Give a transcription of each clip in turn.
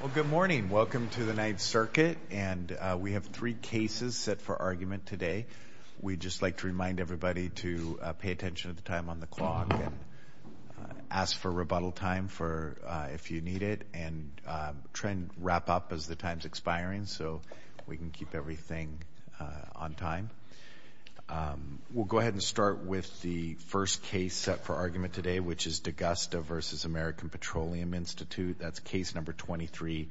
Well, good morning. Welcome to the Ninth Circuit. And we have three cases set for argument today. We'd just like to remind everybody to pay attention to the time on the clock and ask for rebuttal time if you need it and try and wrap up as the time's expiring so we can keep everything on time. We'll go ahead and start with the first case set for argument today, which is D'Augusta v. American Petroleum Institute. That's case number 23-15878.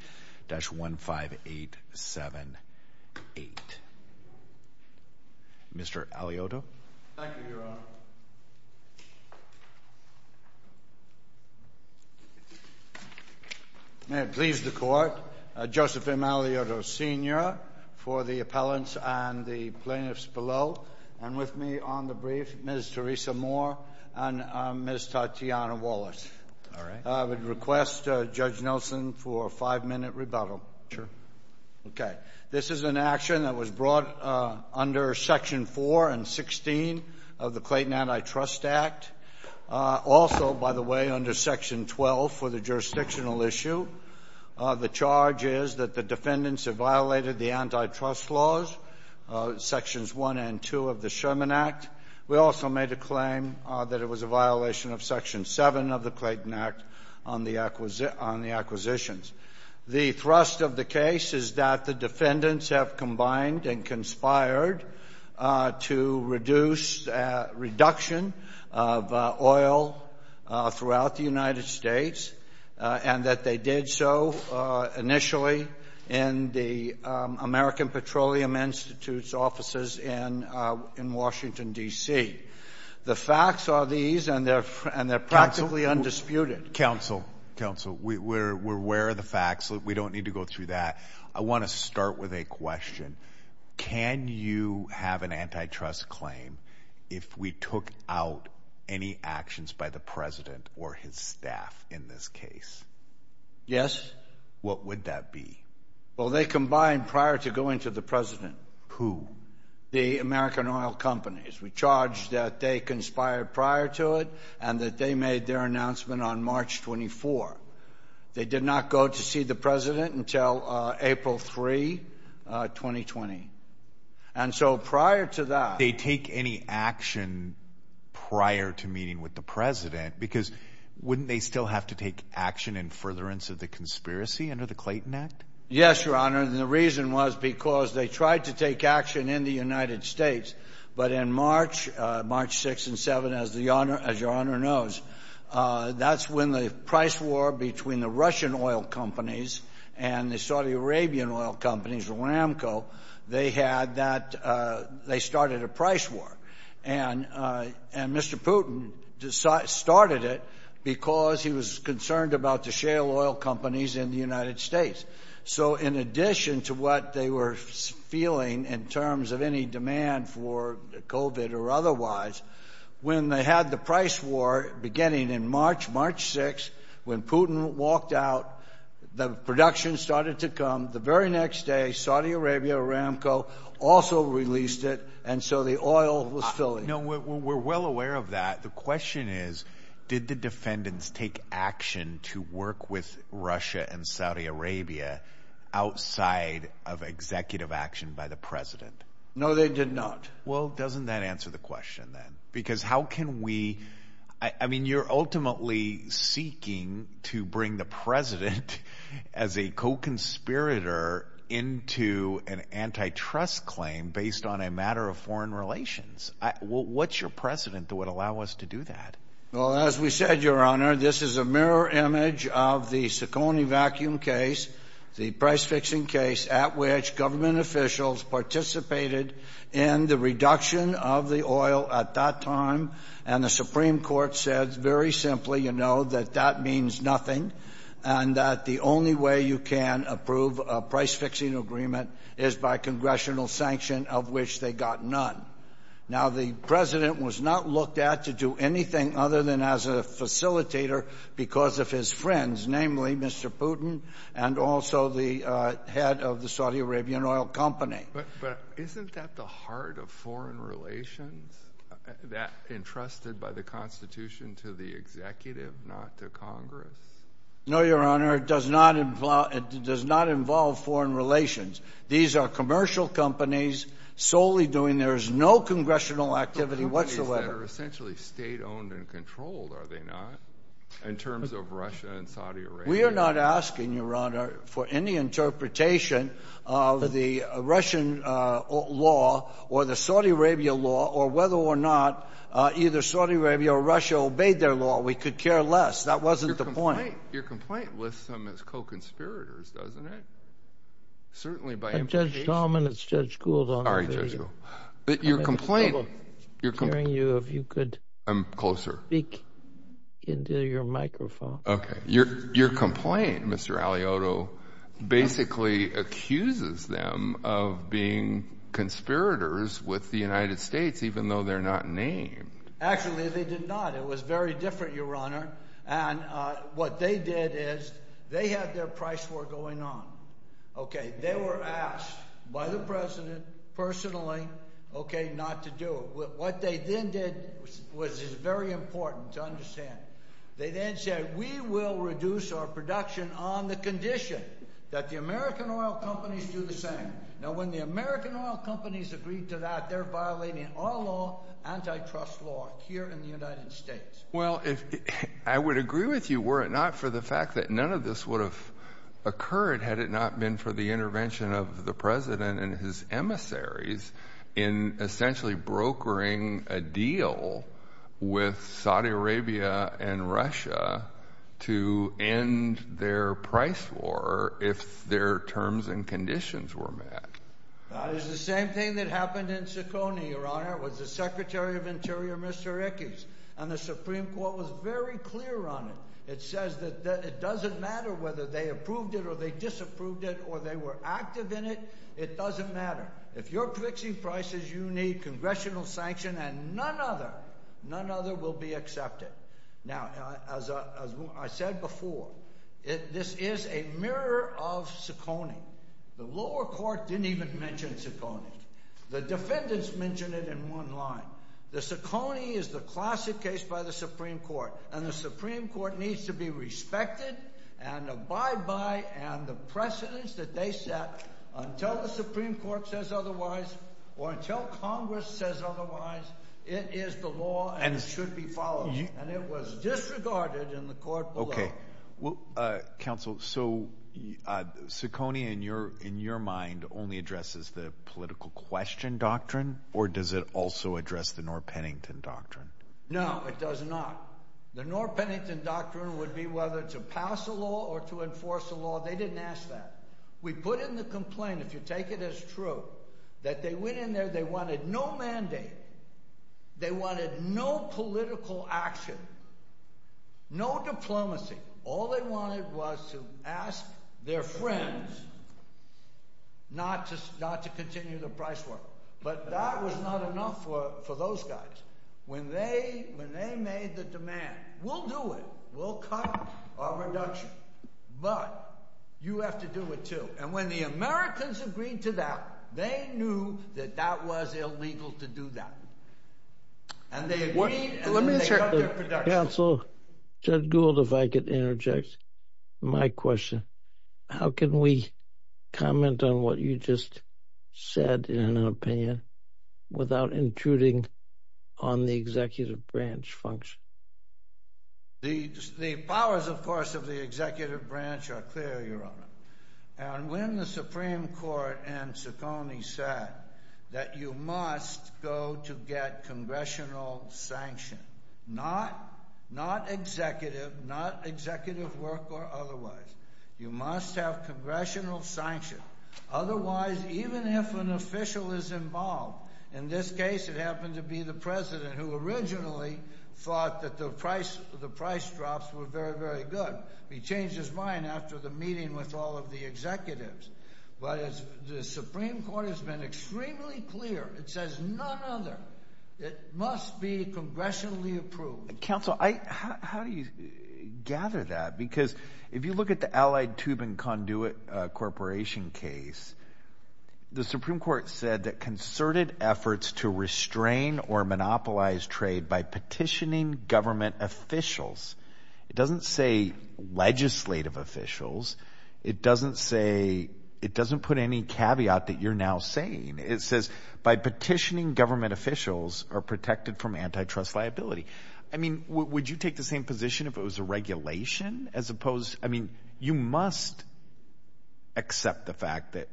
Mr. Aliotto. Thank you, Your Honor. May it please the Court, Joseph M. Aliotto, Sr., for the appellants and the plaintiffs below, and with me on the brief, Ms. Theresa Moore and Ms. Tatiana Wallace. All right. I would request, Judge Nelson, for a five-minute rebuttal. Sure. Okay. This is an action that was brought under Section 4 and 16 of the Clayton Antitrust Act, also, by the way, under Section 12 for the jurisdictional issue. The charge is that the defendants have violated the antitrust laws, Sections 1 and 2 of the Sherman Act. We also made a claim that it was a violation of Section 7 of the Clayton Act on the acquisitions. The thrust of the case is that the defendants have combined and conspired to reduce reduction of oil throughout the United States, and that they did so initially in the American Petroleum Institute's offices in Washington, D.C. The facts are these, and they're practically undisputed. Counsel, we're aware of the facts. We don't need to go through that. I want to start with a question. Can you have an antitrust claim if we took out any actions by the president or his staff in this case? Yes. What would that be? Well, they combined prior to going to the president. Who? The American oil companies. We charge that they conspired prior to it and that they made their announcement on March 24. They did not go to see the president until April 3, 2020. And so prior to that— They take any action prior to meeting with the president, because wouldn't they still have to take action in furtherance of the conspiracy under the Clayton Act? Yes, Your Honor, and the reason was because they tried to take action in the United States, but in March, March 6 and 7, as Your Honor knows, that's when the price war between the Russian oil companies and the Saudi Arabian oil companies, the RAMCO, they started a price war. And Mr. Putin started it because he was concerned about the shale oil companies in the United States. So in addition to what they were feeling in terms of any demand for COVID or otherwise, when they had the price war beginning in March, March 6, when Putin walked out, the production started to come. The very next day, Saudi Arabia, RAMCO also released it. And so the oil was filling. No, we're well aware of that. The question is, did the defendants take action to work with Russia and Saudi Arabia outside of executive action by the president? No, they did not. Well, doesn't that answer the question then? Because how can we—I mean, you're ultimately seeking to bring the president as a co-conspirator into an antitrust claim based on a matter of foreign relations. What's your precedent that would allow us to do that? Well, as we said, Your Honor, this is a mirror image of the Sukoni vacuum case, the price-fixing case at which government officials participated in the reduction of the oil at that time. And the Supreme Court said very simply, you know, that that means nothing and that the only way you can approve a price-fixing agreement is by congressional sanction of which they got none. Now, the president was not looked at to do anything other than as a facilitator because of his friends, namely Mr. Putin and also the head of the Saudi Arabian Oil Company. But isn't that the heart of foreign relations, that entrusted by the Constitution to the executive, not to Congress? No, Your Honor, it does not involve foreign relations. These are commercial companies solely doing—there is no congressional activity whatsoever. They are essentially state-owned and controlled, are they not, in terms of Russia and Saudi Arabia? We are not asking, Your Honor, for any interpretation of the Russian law or the Saudi Arabia law or whether or not either Saudi Arabia or Russia obeyed their law. We could care less. That wasn't the point. Your complaint lists them as co-conspirators, doesn't it? Certainly by implication— But, Judge Talman, it's Judge Gould on the video. Sorry, Judge Gould. I'm having trouble hearing you. If you could— I'm closer. —speak into your microphone. Okay. Your complaint, Mr. Aliotto, basically accuses them of being conspirators with the United States, even though they're not named. Actually, they did not. It was very different, Your Honor. And what they did is they had their price war going on, okay? They were asked by the president personally, okay, not to do it. What they then did was very important to understand. They then said, we will reduce our production on the condition that the American oil companies do the same. Now, when the American oil companies agreed to that, they're violating all antitrust law here in the United States. Well, I would agree with you, were it not for the fact that none of this would have occurred had it not been for the intervention of the president and his emissaries in essentially brokering a deal with Saudi Arabia and Russia to end their price war if their terms and conditions were met. It was the same thing that happened in Sukoni, Your Honor. It was the Secretary of Interior, Mr. Ickes, and the Supreme Court was very clear on it. It says that it doesn't matter whether they approved it or they disapproved it or they were active in it, it doesn't matter. If you're fixing prices, you need congressional sanction and none other, none other will be accepted. Now, as I said before, this is a mirror of Sukoni. The lower court didn't even mention Sukoni. The defendants mentioned it in one line. The Sukoni is the classic case by the Supreme Court, and the Supreme Court needs to be respected and abide by and the precedence that they set until the Supreme Court says otherwise or until Congress says otherwise. It is the law and it should be followed, and it was disregarded in the court below. Counsel, so Sukoni in your mind only addresses the political question doctrine or does it also address the Norr-Pennington doctrine? No, it does not. The Norr-Pennington doctrine would be whether to pass a law or to enforce a law. They didn't ask that. We put in the complaint, if you take it as true, that they went in there, they wanted no mandate. They wanted no political action, no diplomacy. All they wanted was to ask their friends not to continue the price war. But that was not enough for those guys. When they made the demand, we'll do it, we'll cut our reduction, but you have to do it too. And when the Americans agreed to that, they knew that that was illegal to do that. And they agreed and they cut their production. Counsel, Judge Gould, if I could interject. My question, how can we comment on what you just said in an opinion without intruding on the executive branch function? The powers, of course, of the executive branch are clear, Your Honor. And when the Supreme Court and Ciccone said that you must go to get congressional sanction, not executive, not executive work or otherwise. You must have congressional sanction. Otherwise, even if an official is involved, in this case it happened to be the president who originally thought that the price drops were very, very good. He changed his mind after the meeting with all of the executives. But the Supreme Court has been extremely clear. It says none other. It must be congressionally approved. Counsel, how do you gather that? Because if you look at the Allied Tube and Conduit Corporation case, the Supreme Court said that concerted efforts to restrain or monopolize trade by petitioning government officials. It doesn't say legislative officials. It doesn't say, it doesn't put any caveat that you're now saying. It says by petitioning government officials are protected from antitrust liability. I mean, would you take the same position if it was a regulation as opposed, I mean, you must accept the fact that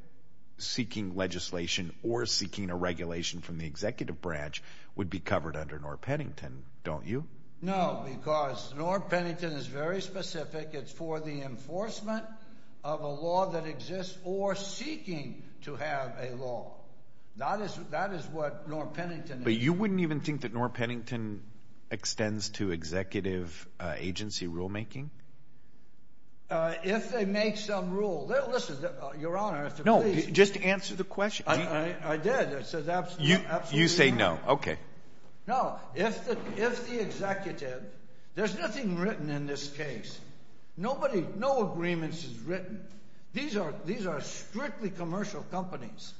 seeking legislation or seeking a regulation from the executive branch would be covered under North Paddington, don't you? No, because North Paddington is very specific. It's for the enforcement of a law that exists or seeking to have a law. That is what North Paddington is. But you wouldn't even think that North Paddington extends to executive agency rulemaking? If they make some rule. Listen, Your Honor, if you please. No, just answer the question. I did. You say no. Okay. No, if the executive, there's nothing written in this case. Nobody, no agreements is written. These are strictly commercial companies.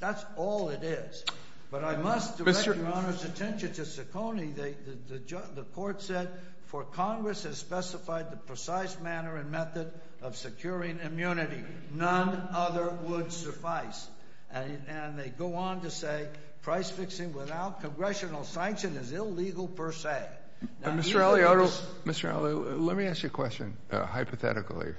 That's all it is. But I must direct Your Honor's attention to Ciccone. The court said, for Congress has specified the precise manner and method of securing immunity. None other would suffice. And they go on to say price fixing without congressional sanction is illegal per se. Mr. Ali, let me ask you a question, hypothetically.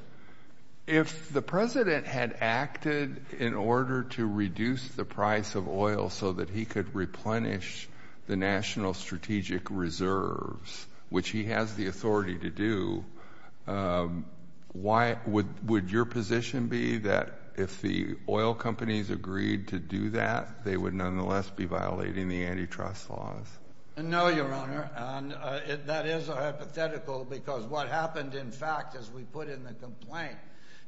If the President had acted in order to reduce the price of oil so that he could replenish the National Strategic Reserves, which he has the authority to do, would your position be that if the oil companies agreed to do that, they would nonetheless be violating the antitrust laws? No, Your Honor. And that is a hypothetical because what happened, in fact, as we put in the complaint,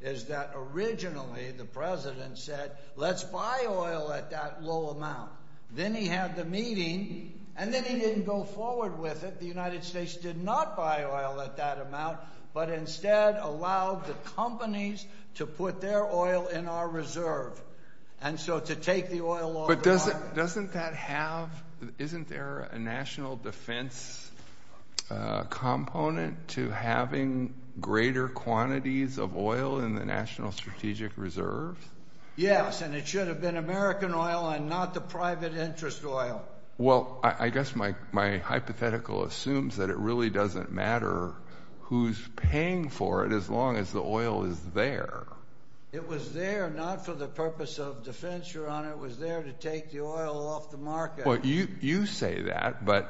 is that originally the President said, let's buy oil at that low amount. Then he had the meeting, and then he didn't go forward with it. The United States did not buy oil at that amount but instead allowed the companies to put their oil in our reserve and so to take the oil off the market. But doesn't that have, isn't there a national defense component to having greater quantities of oil in the National Strategic Reserve? Yes, and it should have been American oil and not the private interest oil. Well, I guess my hypothetical assumes that it really doesn't matter who's paying for it as long as the oil is there. It was there not for the purpose of defense, Your Honor. It was there to take the oil off the market. Well, you say that, but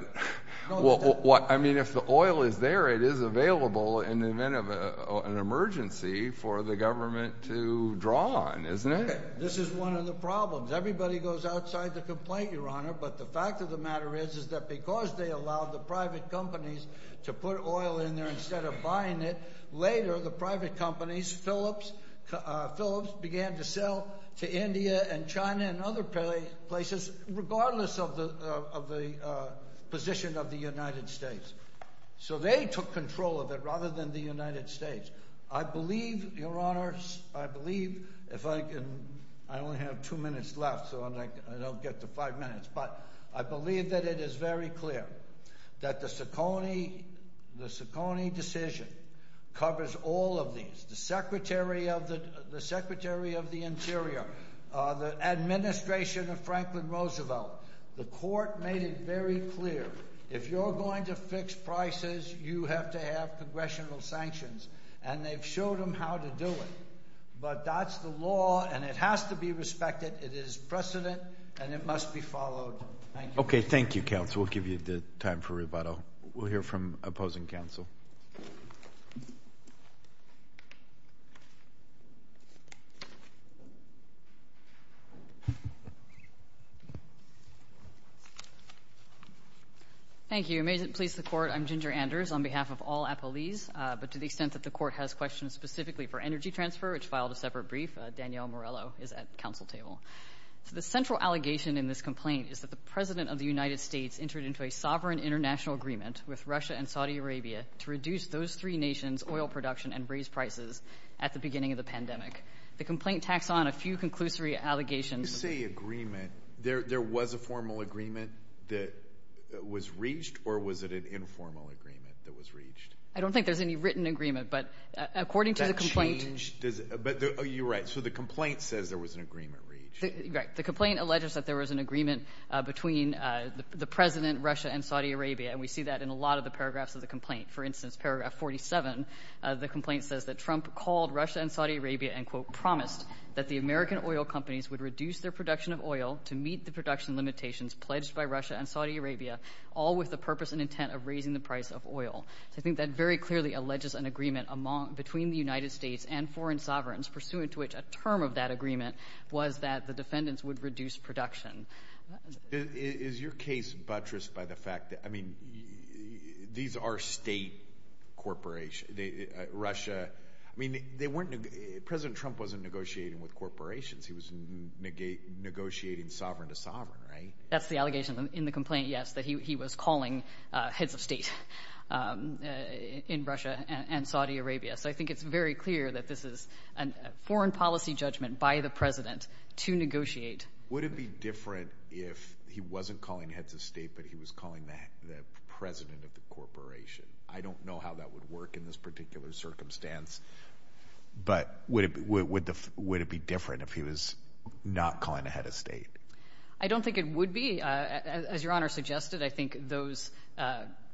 if the oil is there, it is available in the event of an emergency for the government to draw on, isn't it? This is one of the problems. Everybody goes outside the complaint, Your Honor, but the fact of the matter is, is that because they allowed the private companies to put oil in there instead of buying it, later the private companies, Phillips, began to sell to India and China and other places, regardless of the position of the United States. So they took control of it rather than the United States. I believe, Your Honor, I believe, if I can, I only have two minutes left, so I don't get to five minutes, but I believe that it is very clear that the Ciccone decision covers all of these. The Secretary of the Interior, the administration of Franklin Roosevelt, the court made it very clear, if you're going to fix prices, you have to have congressional sanctions, and they've showed them how to do it. But that's the law, and it has to be respected. It is precedent, and it must be followed. Thank you. Okay, thank you, counsel. We'll give you the time for rebuttal. We'll hear from opposing counsel. Thank you. May it please the court, I'm Ginger Anders on behalf of all appellees. But to the extent that the court has questions specifically for energy transfer, which filed a separate brief, Danielle Morello is at the counsel table. The central allegation in this complaint is that the President of the United States entered into a sovereign international agreement with Russia and Saudi Arabia to reduce those three nations' oil production and raise prices at the beginning of the pandemic. The complaint tacks on a few conclusory allegations. When you say agreement, there was a formal agreement that was reached, or was it an informal agreement that was reached? I don't think there's any written agreement, but according to the complaint. That changed. But you're right. So the complaint says there was an agreement reached. Right. The complaint alleges that there was an agreement between the President, Russia, and Saudi Arabia, and we see that in a lot of the paragraphs of the complaint. For instance, paragraph 47 of the complaint says that Trump called Russia and Saudi Arabia and, quote, that the American oil companies would reduce their production of oil to meet the production limitations pledged by Russia and Saudi Arabia, all with the purpose and intent of raising the price of oil. So I think that very clearly alleges an agreement between the United States and foreign sovereigns, pursuant to which a term of that agreement was that the defendants would reduce production. Is your case buttressed by the fact that, I mean, these are state corporations. I mean, President Trump wasn't negotiating with corporations. He was negotiating sovereign to sovereign, right? That's the allegation in the complaint, yes, that he was calling heads of state in Russia and Saudi Arabia. So I think it's very clear that this is a foreign policy judgment by the President to negotiate. Would it be different if he wasn't calling heads of state but he was calling the president of the corporation? I don't know how that would work in this particular circumstance, but would it be different if he was not calling a head of state? I don't think it would be. As Your Honor suggested, I think those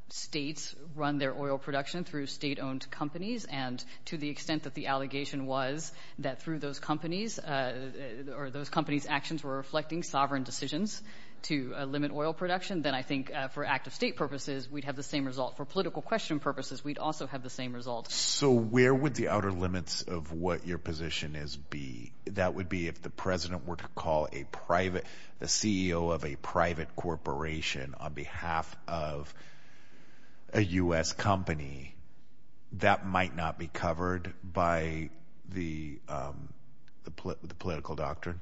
states run their oil production through state-owned companies. And to the extent that the allegation was that through those companies or those companies' actions were reflecting sovereign decisions to limit oil production, then I think for active state purposes, we'd have the same result. For political question purposes, we'd also have the same result. So where would the outer limits of what your position is be? That would be if the president were to call the CEO of a private corporation on behalf of a U.S. company. That might not be covered by the political doctrine?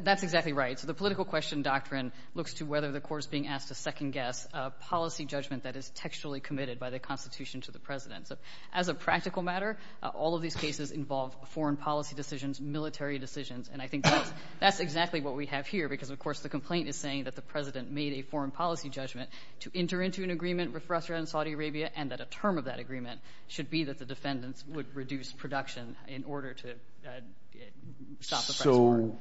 That's exactly right. So the political question doctrine looks to whether the court is being asked to second-guess a policy judgment that is textually committed by the Constitution to the president. So as a practical matter, all of these cases involve foreign policy decisions, military decisions. And I think that's exactly what we have here because, of course, the complaint is saying that the president made a foreign policy judgment to enter into an agreement with Russia and Saudi Arabia and that a term of that agreement should be that the defendants would reduce production in order to stop the French war.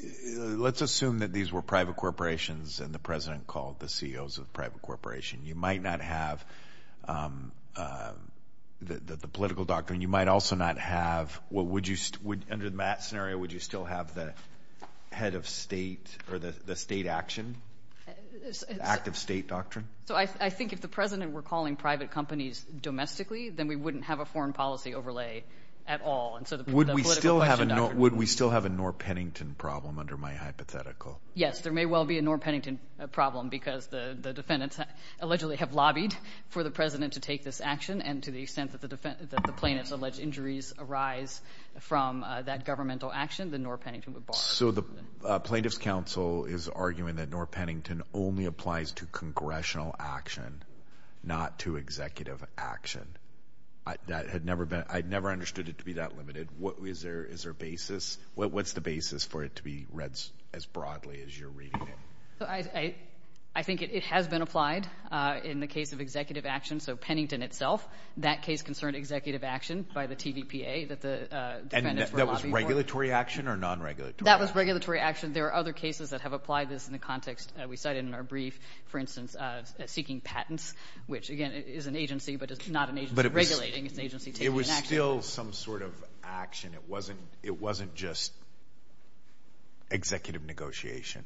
So let's assume that these were private corporations and the president called the CEOs of the private corporation. You might not have the political doctrine. You might also not have what would you – under that scenario, would you still have the head of state or the state action, active state doctrine? So I think if the president were calling private companies domestically, then we wouldn't have a foreign policy overlay at all. Would we still have a Norr-Pennington problem under my hypothetical? Yes, there may well be a Norr-Pennington problem because the defendants allegedly have lobbied for the president to take this action. And to the extent that the plaintiffs' alleged injuries arise from that governmental action, the Norr-Pennington would bar them. So the Plaintiffs' Council is arguing that Norr-Pennington only applies to congressional action, not to executive action. That had never been – I never understood it to be that limited. What is their basis? What's the basis for it to be read as broadly as you're reading it? I think it has been applied in the case of executive action. So Pennington itself, that case concerned executive action by the TVPA that the defendants were lobbying for. And that was regulatory action or non-regulatory action? That was regulatory action. There are other cases that have applied this in the context we cited in our brief, for instance, seeking patents, which, again, is an agency, but it's not an agency regulating. It's an agency taking an action. But it was still some sort of action. It wasn't just executive negotiation.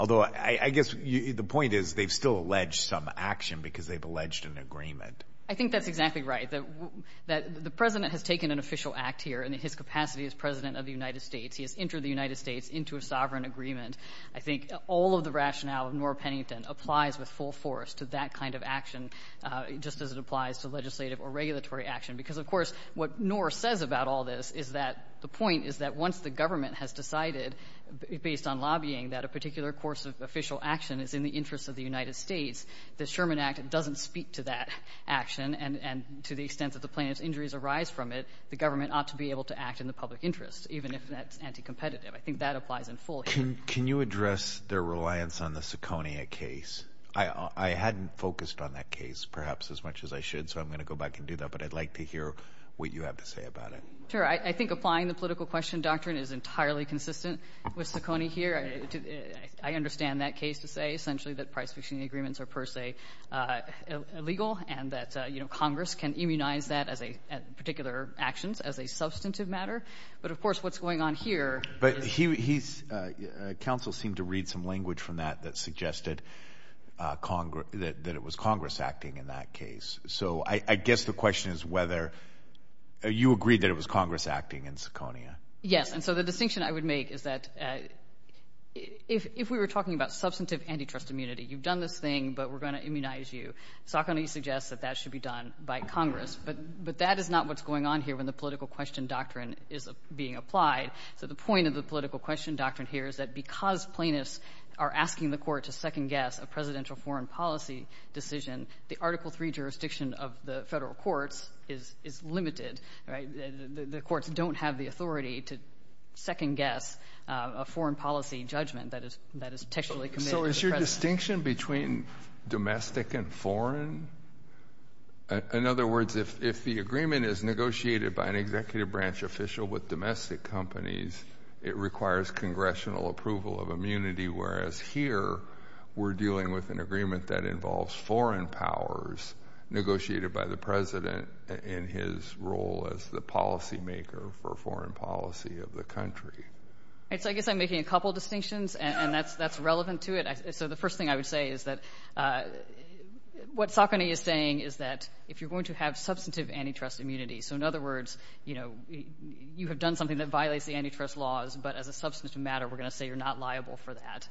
Although I guess the point is they've still alleged some action because they've alleged an agreement. I think that's exactly right, that the president has taken an official act here. In his capacity as president of the United States, he has entered the United States into a sovereign agreement. I think all of the rationale of Noor Pennington applies with full force to that kind of action, just as it applies to legislative or regulatory action. Because, of course, what Noor says about all this is that the point is that once the government has decided, based on lobbying, that a particular course of official action is in the interest of the United States, the Sherman Act doesn't speak to that action. And to the extent that the plaintiff's injuries arise from it, the government ought to be able to act in the public interest, even if that's anticompetitive. I think that applies in full here. Can you address their reliance on the Ciccone case? I hadn't focused on that case perhaps as much as I should, so I'm going to go back and do that, but I'd like to hear what you have to say about it. Sure. I think applying the political question doctrine is entirely consistent with Ciccone here. I understand that case to say essentially that price-fixing agreements are per se illegal and that Congress can immunize that particular actions as a substantive matter. But, of course, what's going on here is... But counsel seemed to read some language from that that suggested that it was Congress acting in that case. So I guess the question is whether you agree that it was Congress acting in Ciccone. Yes, and so the distinction I would make is that if we were talking about substantive antitrust immunity, you've done this thing, but we're going to immunize you, Ciccone suggests that that should be done by Congress. But that is not what's going on here when the political question doctrine is being applied. So the point of the political question doctrine here is that because plaintiffs are asking the court to second-guess a presidential foreign policy decision, the Article III jurisdiction of the federal courts is limited. The courts don't have the authority to second-guess a foreign policy judgment that is textually committed. So is your distinction between domestic and foreign? In other words, if the agreement is negotiated by an executive branch official with domestic companies, it requires congressional approval of immunity, whereas here we're dealing with an agreement that involves foreign powers negotiated by the president in his role as the policymaker for foreign policy of the country. So I guess I'm making a couple of distinctions, and that's relevant to it. So the first thing I would say is that what Ciccone is saying is that if you're going to have substantive antitrust immunity, so in other words, you have done something that violates the antitrust laws, but as a substantive matter, we're going to say you're not liable for that.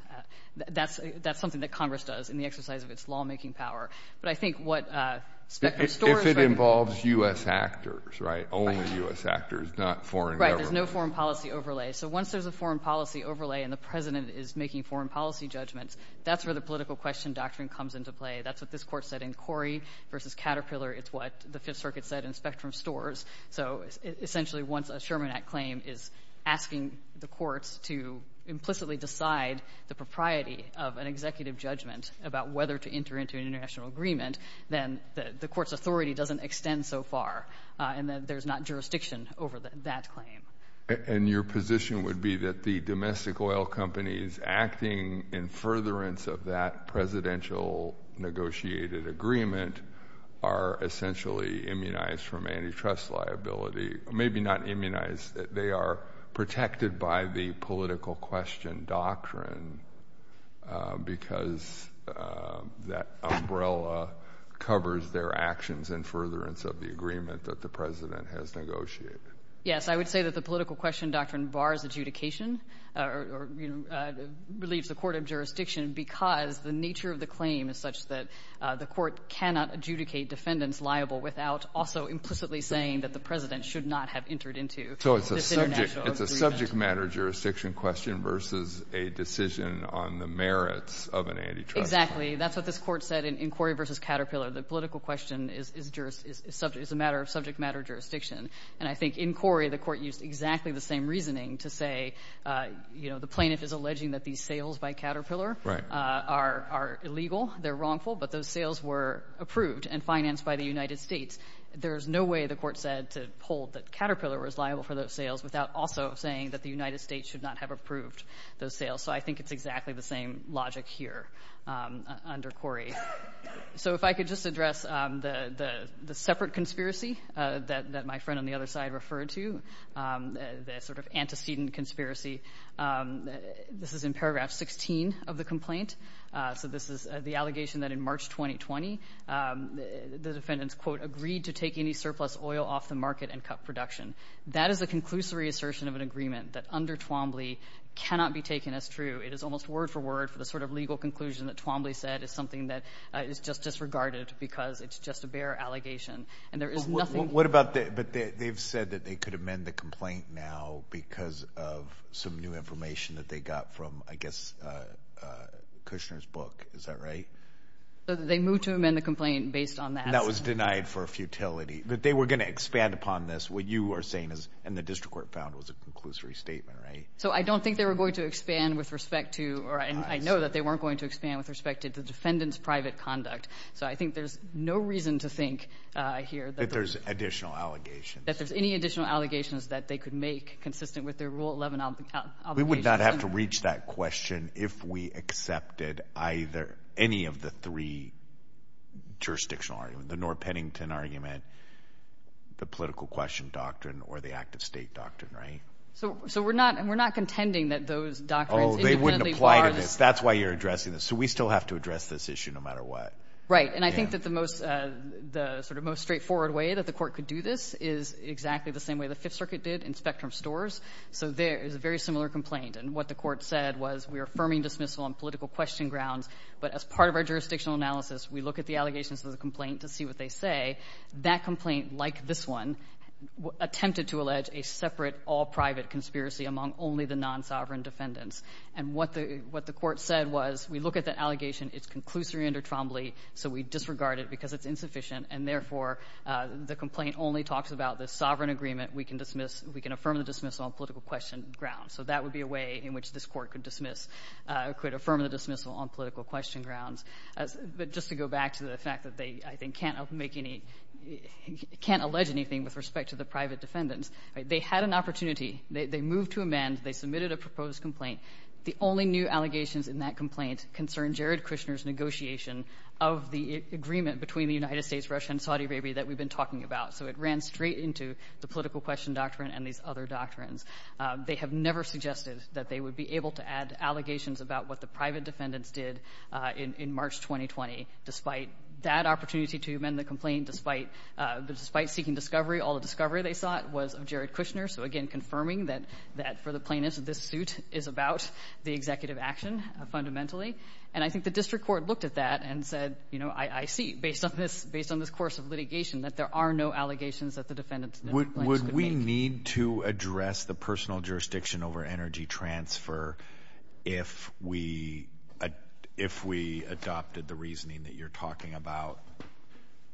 That's something that Congress does in the exercise of its lawmaking power. But I think what Specter Storrs— If it involves U.S. actors, right, only U.S. actors, not foreign government. Right, there's no foreign policy overlay. So once there's a foreign policy overlay and the president is making foreign policy judgments, that's where the political question doctrine comes into play. That's what this court said in Corey v. Caterpillar. It's what the Fifth Circuit said in Specter Storrs. So essentially once a Sherman Act claim is asking the courts to implicitly decide the propriety of an executive judgment about whether to enter into an international agreement, then the court's authority doesn't extend so far, and there's not jurisdiction over that claim. And your position would be that the domestic oil companies acting in furtherance of that presidential negotiated agreement are essentially immunized from antitrust liability. Maybe not immunized. They are protected by the political question doctrine because that umbrella covers their actions in furtherance of the agreement that the president has negotiated. Yes, I would say that the political question doctrine bars adjudication or relieves the court of jurisdiction because the nature of the claim is such that the court cannot adjudicate defendants liable without also implicitly saying that the president should not have entered into this international agreement. So it's a subject matter jurisdiction question versus a decision on the merits of an antitrust claim. Exactly. That's what this court said in Corey v. Caterpillar. The political question is a matter of subject matter jurisdiction. And I think in Corey, the court used exactly the same reasoning to say, you know, the plaintiff is alleging that these sales by Caterpillar are illegal, they're wrongful, but those sales were approved and financed by the United States. There's no way, the court said, to hold that Caterpillar was liable for those sales without also saying that the United States should not have approved those sales. So I think it's exactly the same logic here under Corey. So if I could just address the separate conspiracy that my friend on the other side referred to, the sort of antecedent conspiracy. This is in paragraph 16 of the complaint. So this is the allegation that in March 2020, the defendants, quote, agreed to take any surplus oil off the market and cut production. That is a conclusory assertion of an agreement that under Twombly cannot be taken as true. It is almost word for word for the sort of legal conclusion that Twombly said is something that is just disregarded because it's just a bare allegation. And there is nothing. What about the, but they've said that they could amend the complaint now because of some new information that they got from, I guess, Kushner's book. Is that right? They moved to amend the complaint based on that. That was denied for futility. But they were going to expand upon this. What you are saying is, and the district court found was a conclusory statement, right? So I don't think they were going to expand with respect to, or I know that they weren't going to expand with respect to the defendant's private conduct. So I think there's no reason to think here that there's additional allegations. That there's any additional allegations that they could make consistent with their Rule 11 obligations. We would not have to reach that question if we accepted either any of the three jurisdictional arguments, the Noor-Pennington argument, the political question doctrine, or the act of state doctrine, right? So we're not contending that those doctrines independently are this. Oh, they wouldn't apply to this. That's why you're addressing this. So we still have to address this issue no matter what. Right. And I think that the sort of most straightforward way that the court could do this is exactly the same way the Fifth Circuit did in Spectrum Stores. So there is a very similar complaint. And what the court said was, we are affirming dismissal on political question grounds, but as part of our jurisdictional analysis, we look at the allegations of the complaint to see what they say. That complaint, like this one, attempted to allege a separate all-private conspiracy among only the non-sovereign defendants. And what the court said was, we look at the allegation, it's conclusory and or trombley, so we disregard it because it's insufficient, and therefore the complaint only talks about the sovereign agreement, we can affirm the dismissal on political question grounds. So that would be a way in which this court could dismiss or could affirm the dismissal on political question grounds. But just to go back to the fact that they, I think, can't make any — can't allege anything with respect to the private defendants, they had an opportunity. They moved to amend. They submitted a proposed complaint. The only new allegations in that complaint concern Jared Kushner's negotiation of the agreement between the United States, Russia, and Saudi Arabia that we've been talking about. So it ran straight into the political question doctrine and these other doctrines. They have never suggested that they would be able to add allegations about what the private defendants did in March 2020, despite that opportunity to amend the complaint, despite seeking discovery. All the discovery they sought was of Jared Kushner. So, again, confirming that for the plaintiffs, this suit is about the executive action fundamentally. And I think the district court looked at that and said, you know, I see, based on this course of litigation, that there are no allegations that the defendants did. Would we need to address the personal jurisdiction over energy transfer if we adopted the reasoning that you're talking about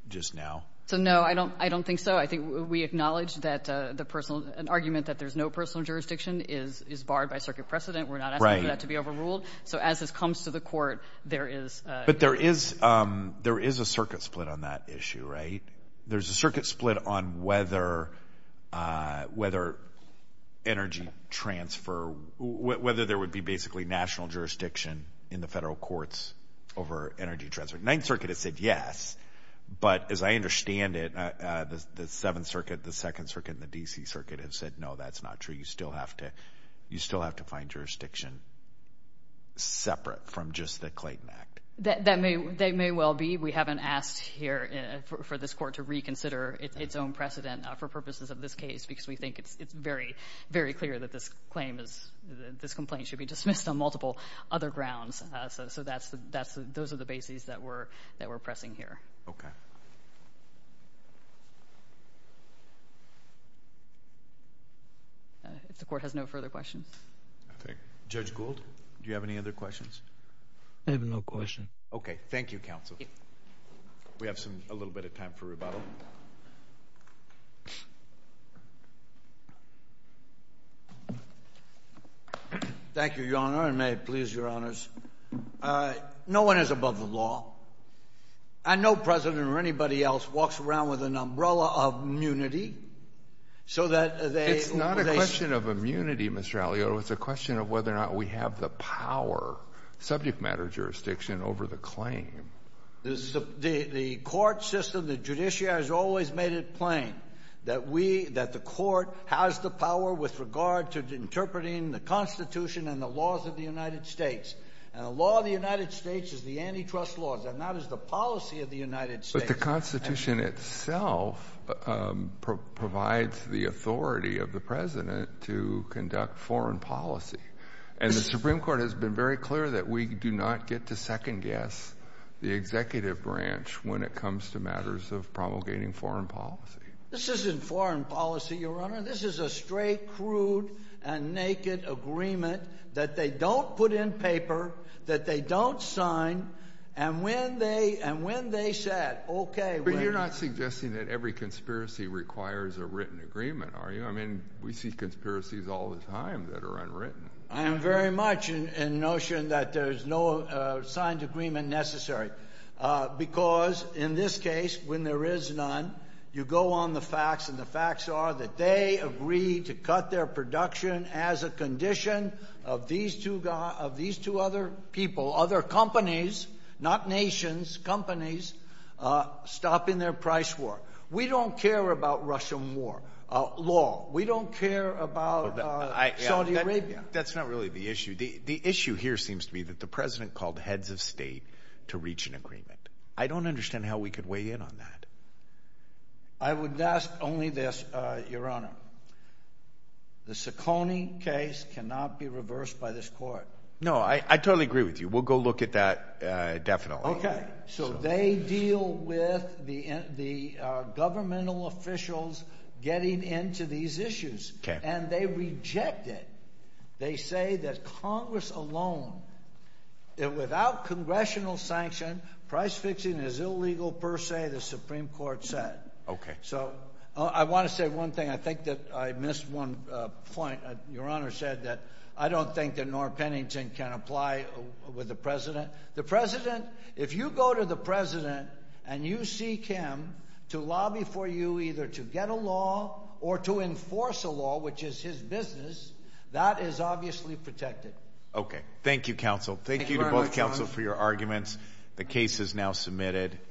just now? So, no, I don't think so. I think we acknowledge that an argument that there's no personal jurisdiction is barred by circuit precedent. We're not asking for that to be overruled. So as this comes to the court, there is a... But there is a circuit split on that issue, right? There's a circuit split on whether energy transfer, whether there would be basically national jurisdiction in the federal courts over energy transfer. Ninth Circuit has said yes, but as I understand it, the Seventh Circuit, the Second Circuit, and the D.C. Circuit have said, no, that's not true. You still have to find jurisdiction separate from just the Clayton Act. That may well be. We haven't asked here for this court to reconsider its own precedent for purposes of this case because we think it's very, very clear that this complaint should be dismissed on multiple other grounds. So those are the bases that we're pressing here. Okay. If the court has no further questions. Judge Gould, do you have any other questions? I have no questions. Okay. Thank you, counsel. We have a little bit of time for rebuttal. Thank you, Your Honor, and may it please Your Honors. No one is above the law, and no president or anybody else walks around with an umbrella of immunity so that they... It's not a question of immunity, Mr. Alioto. It's a question of whether or not we have the power, subject matter jurisdiction, over the claim. The court system, the judiciary has always made it plain that we, that the court has the power with regard to interpreting the Constitution and the laws of the United States. And the law of the United States is the antitrust laws, and that is the policy of the United States. But the Constitution itself provides the authority of the president to conduct foreign policy. And the Supreme Court has been very clear that we do not get to second-guess the executive branch when it comes to matters of promulgating foreign policy. This isn't foreign policy, Your Honor. This is a straight, crude, and naked agreement that they don't put in paper, that they don't sign, and when they said, okay, we're... But you're not suggesting that every conspiracy requires a written agreement, are you? I mean, we see conspiracies all the time that are unwritten. I am very much in the notion that there's no signed agreement necessary, because in this case, when there is none, you go on the facts, and the facts are that they agreed to cut their production as a condition of these two other people, other companies, not nations, companies stopping their price war. We don't care about Russian war, law. We don't care about Saudi Arabia. That's not really the issue. The issue here seems to be that the president called heads of state to reach an agreement. I don't understand how we could weigh in on that. I would ask only this, Your Honor. The Ciccone case cannot be reversed by this court. No, I totally agree with you. We'll go look at that definitely. Okay. So they deal with the governmental officials getting into these issues, and they reject it. They say that Congress alone, without congressional sanction, price fixing is illegal per se, the Supreme Court said. Okay. So I want to say one thing. I think that I missed one point. Your Honor said that I don't think that Norm Pennington can apply with the president. The president, if you go to the president and you seek him to lobby for you either to get a law or to enforce a law, which is his business, that is obviously protected. Okay. Thank you, counsel. Thank you to both counsel for your arguments. The case is now submitted.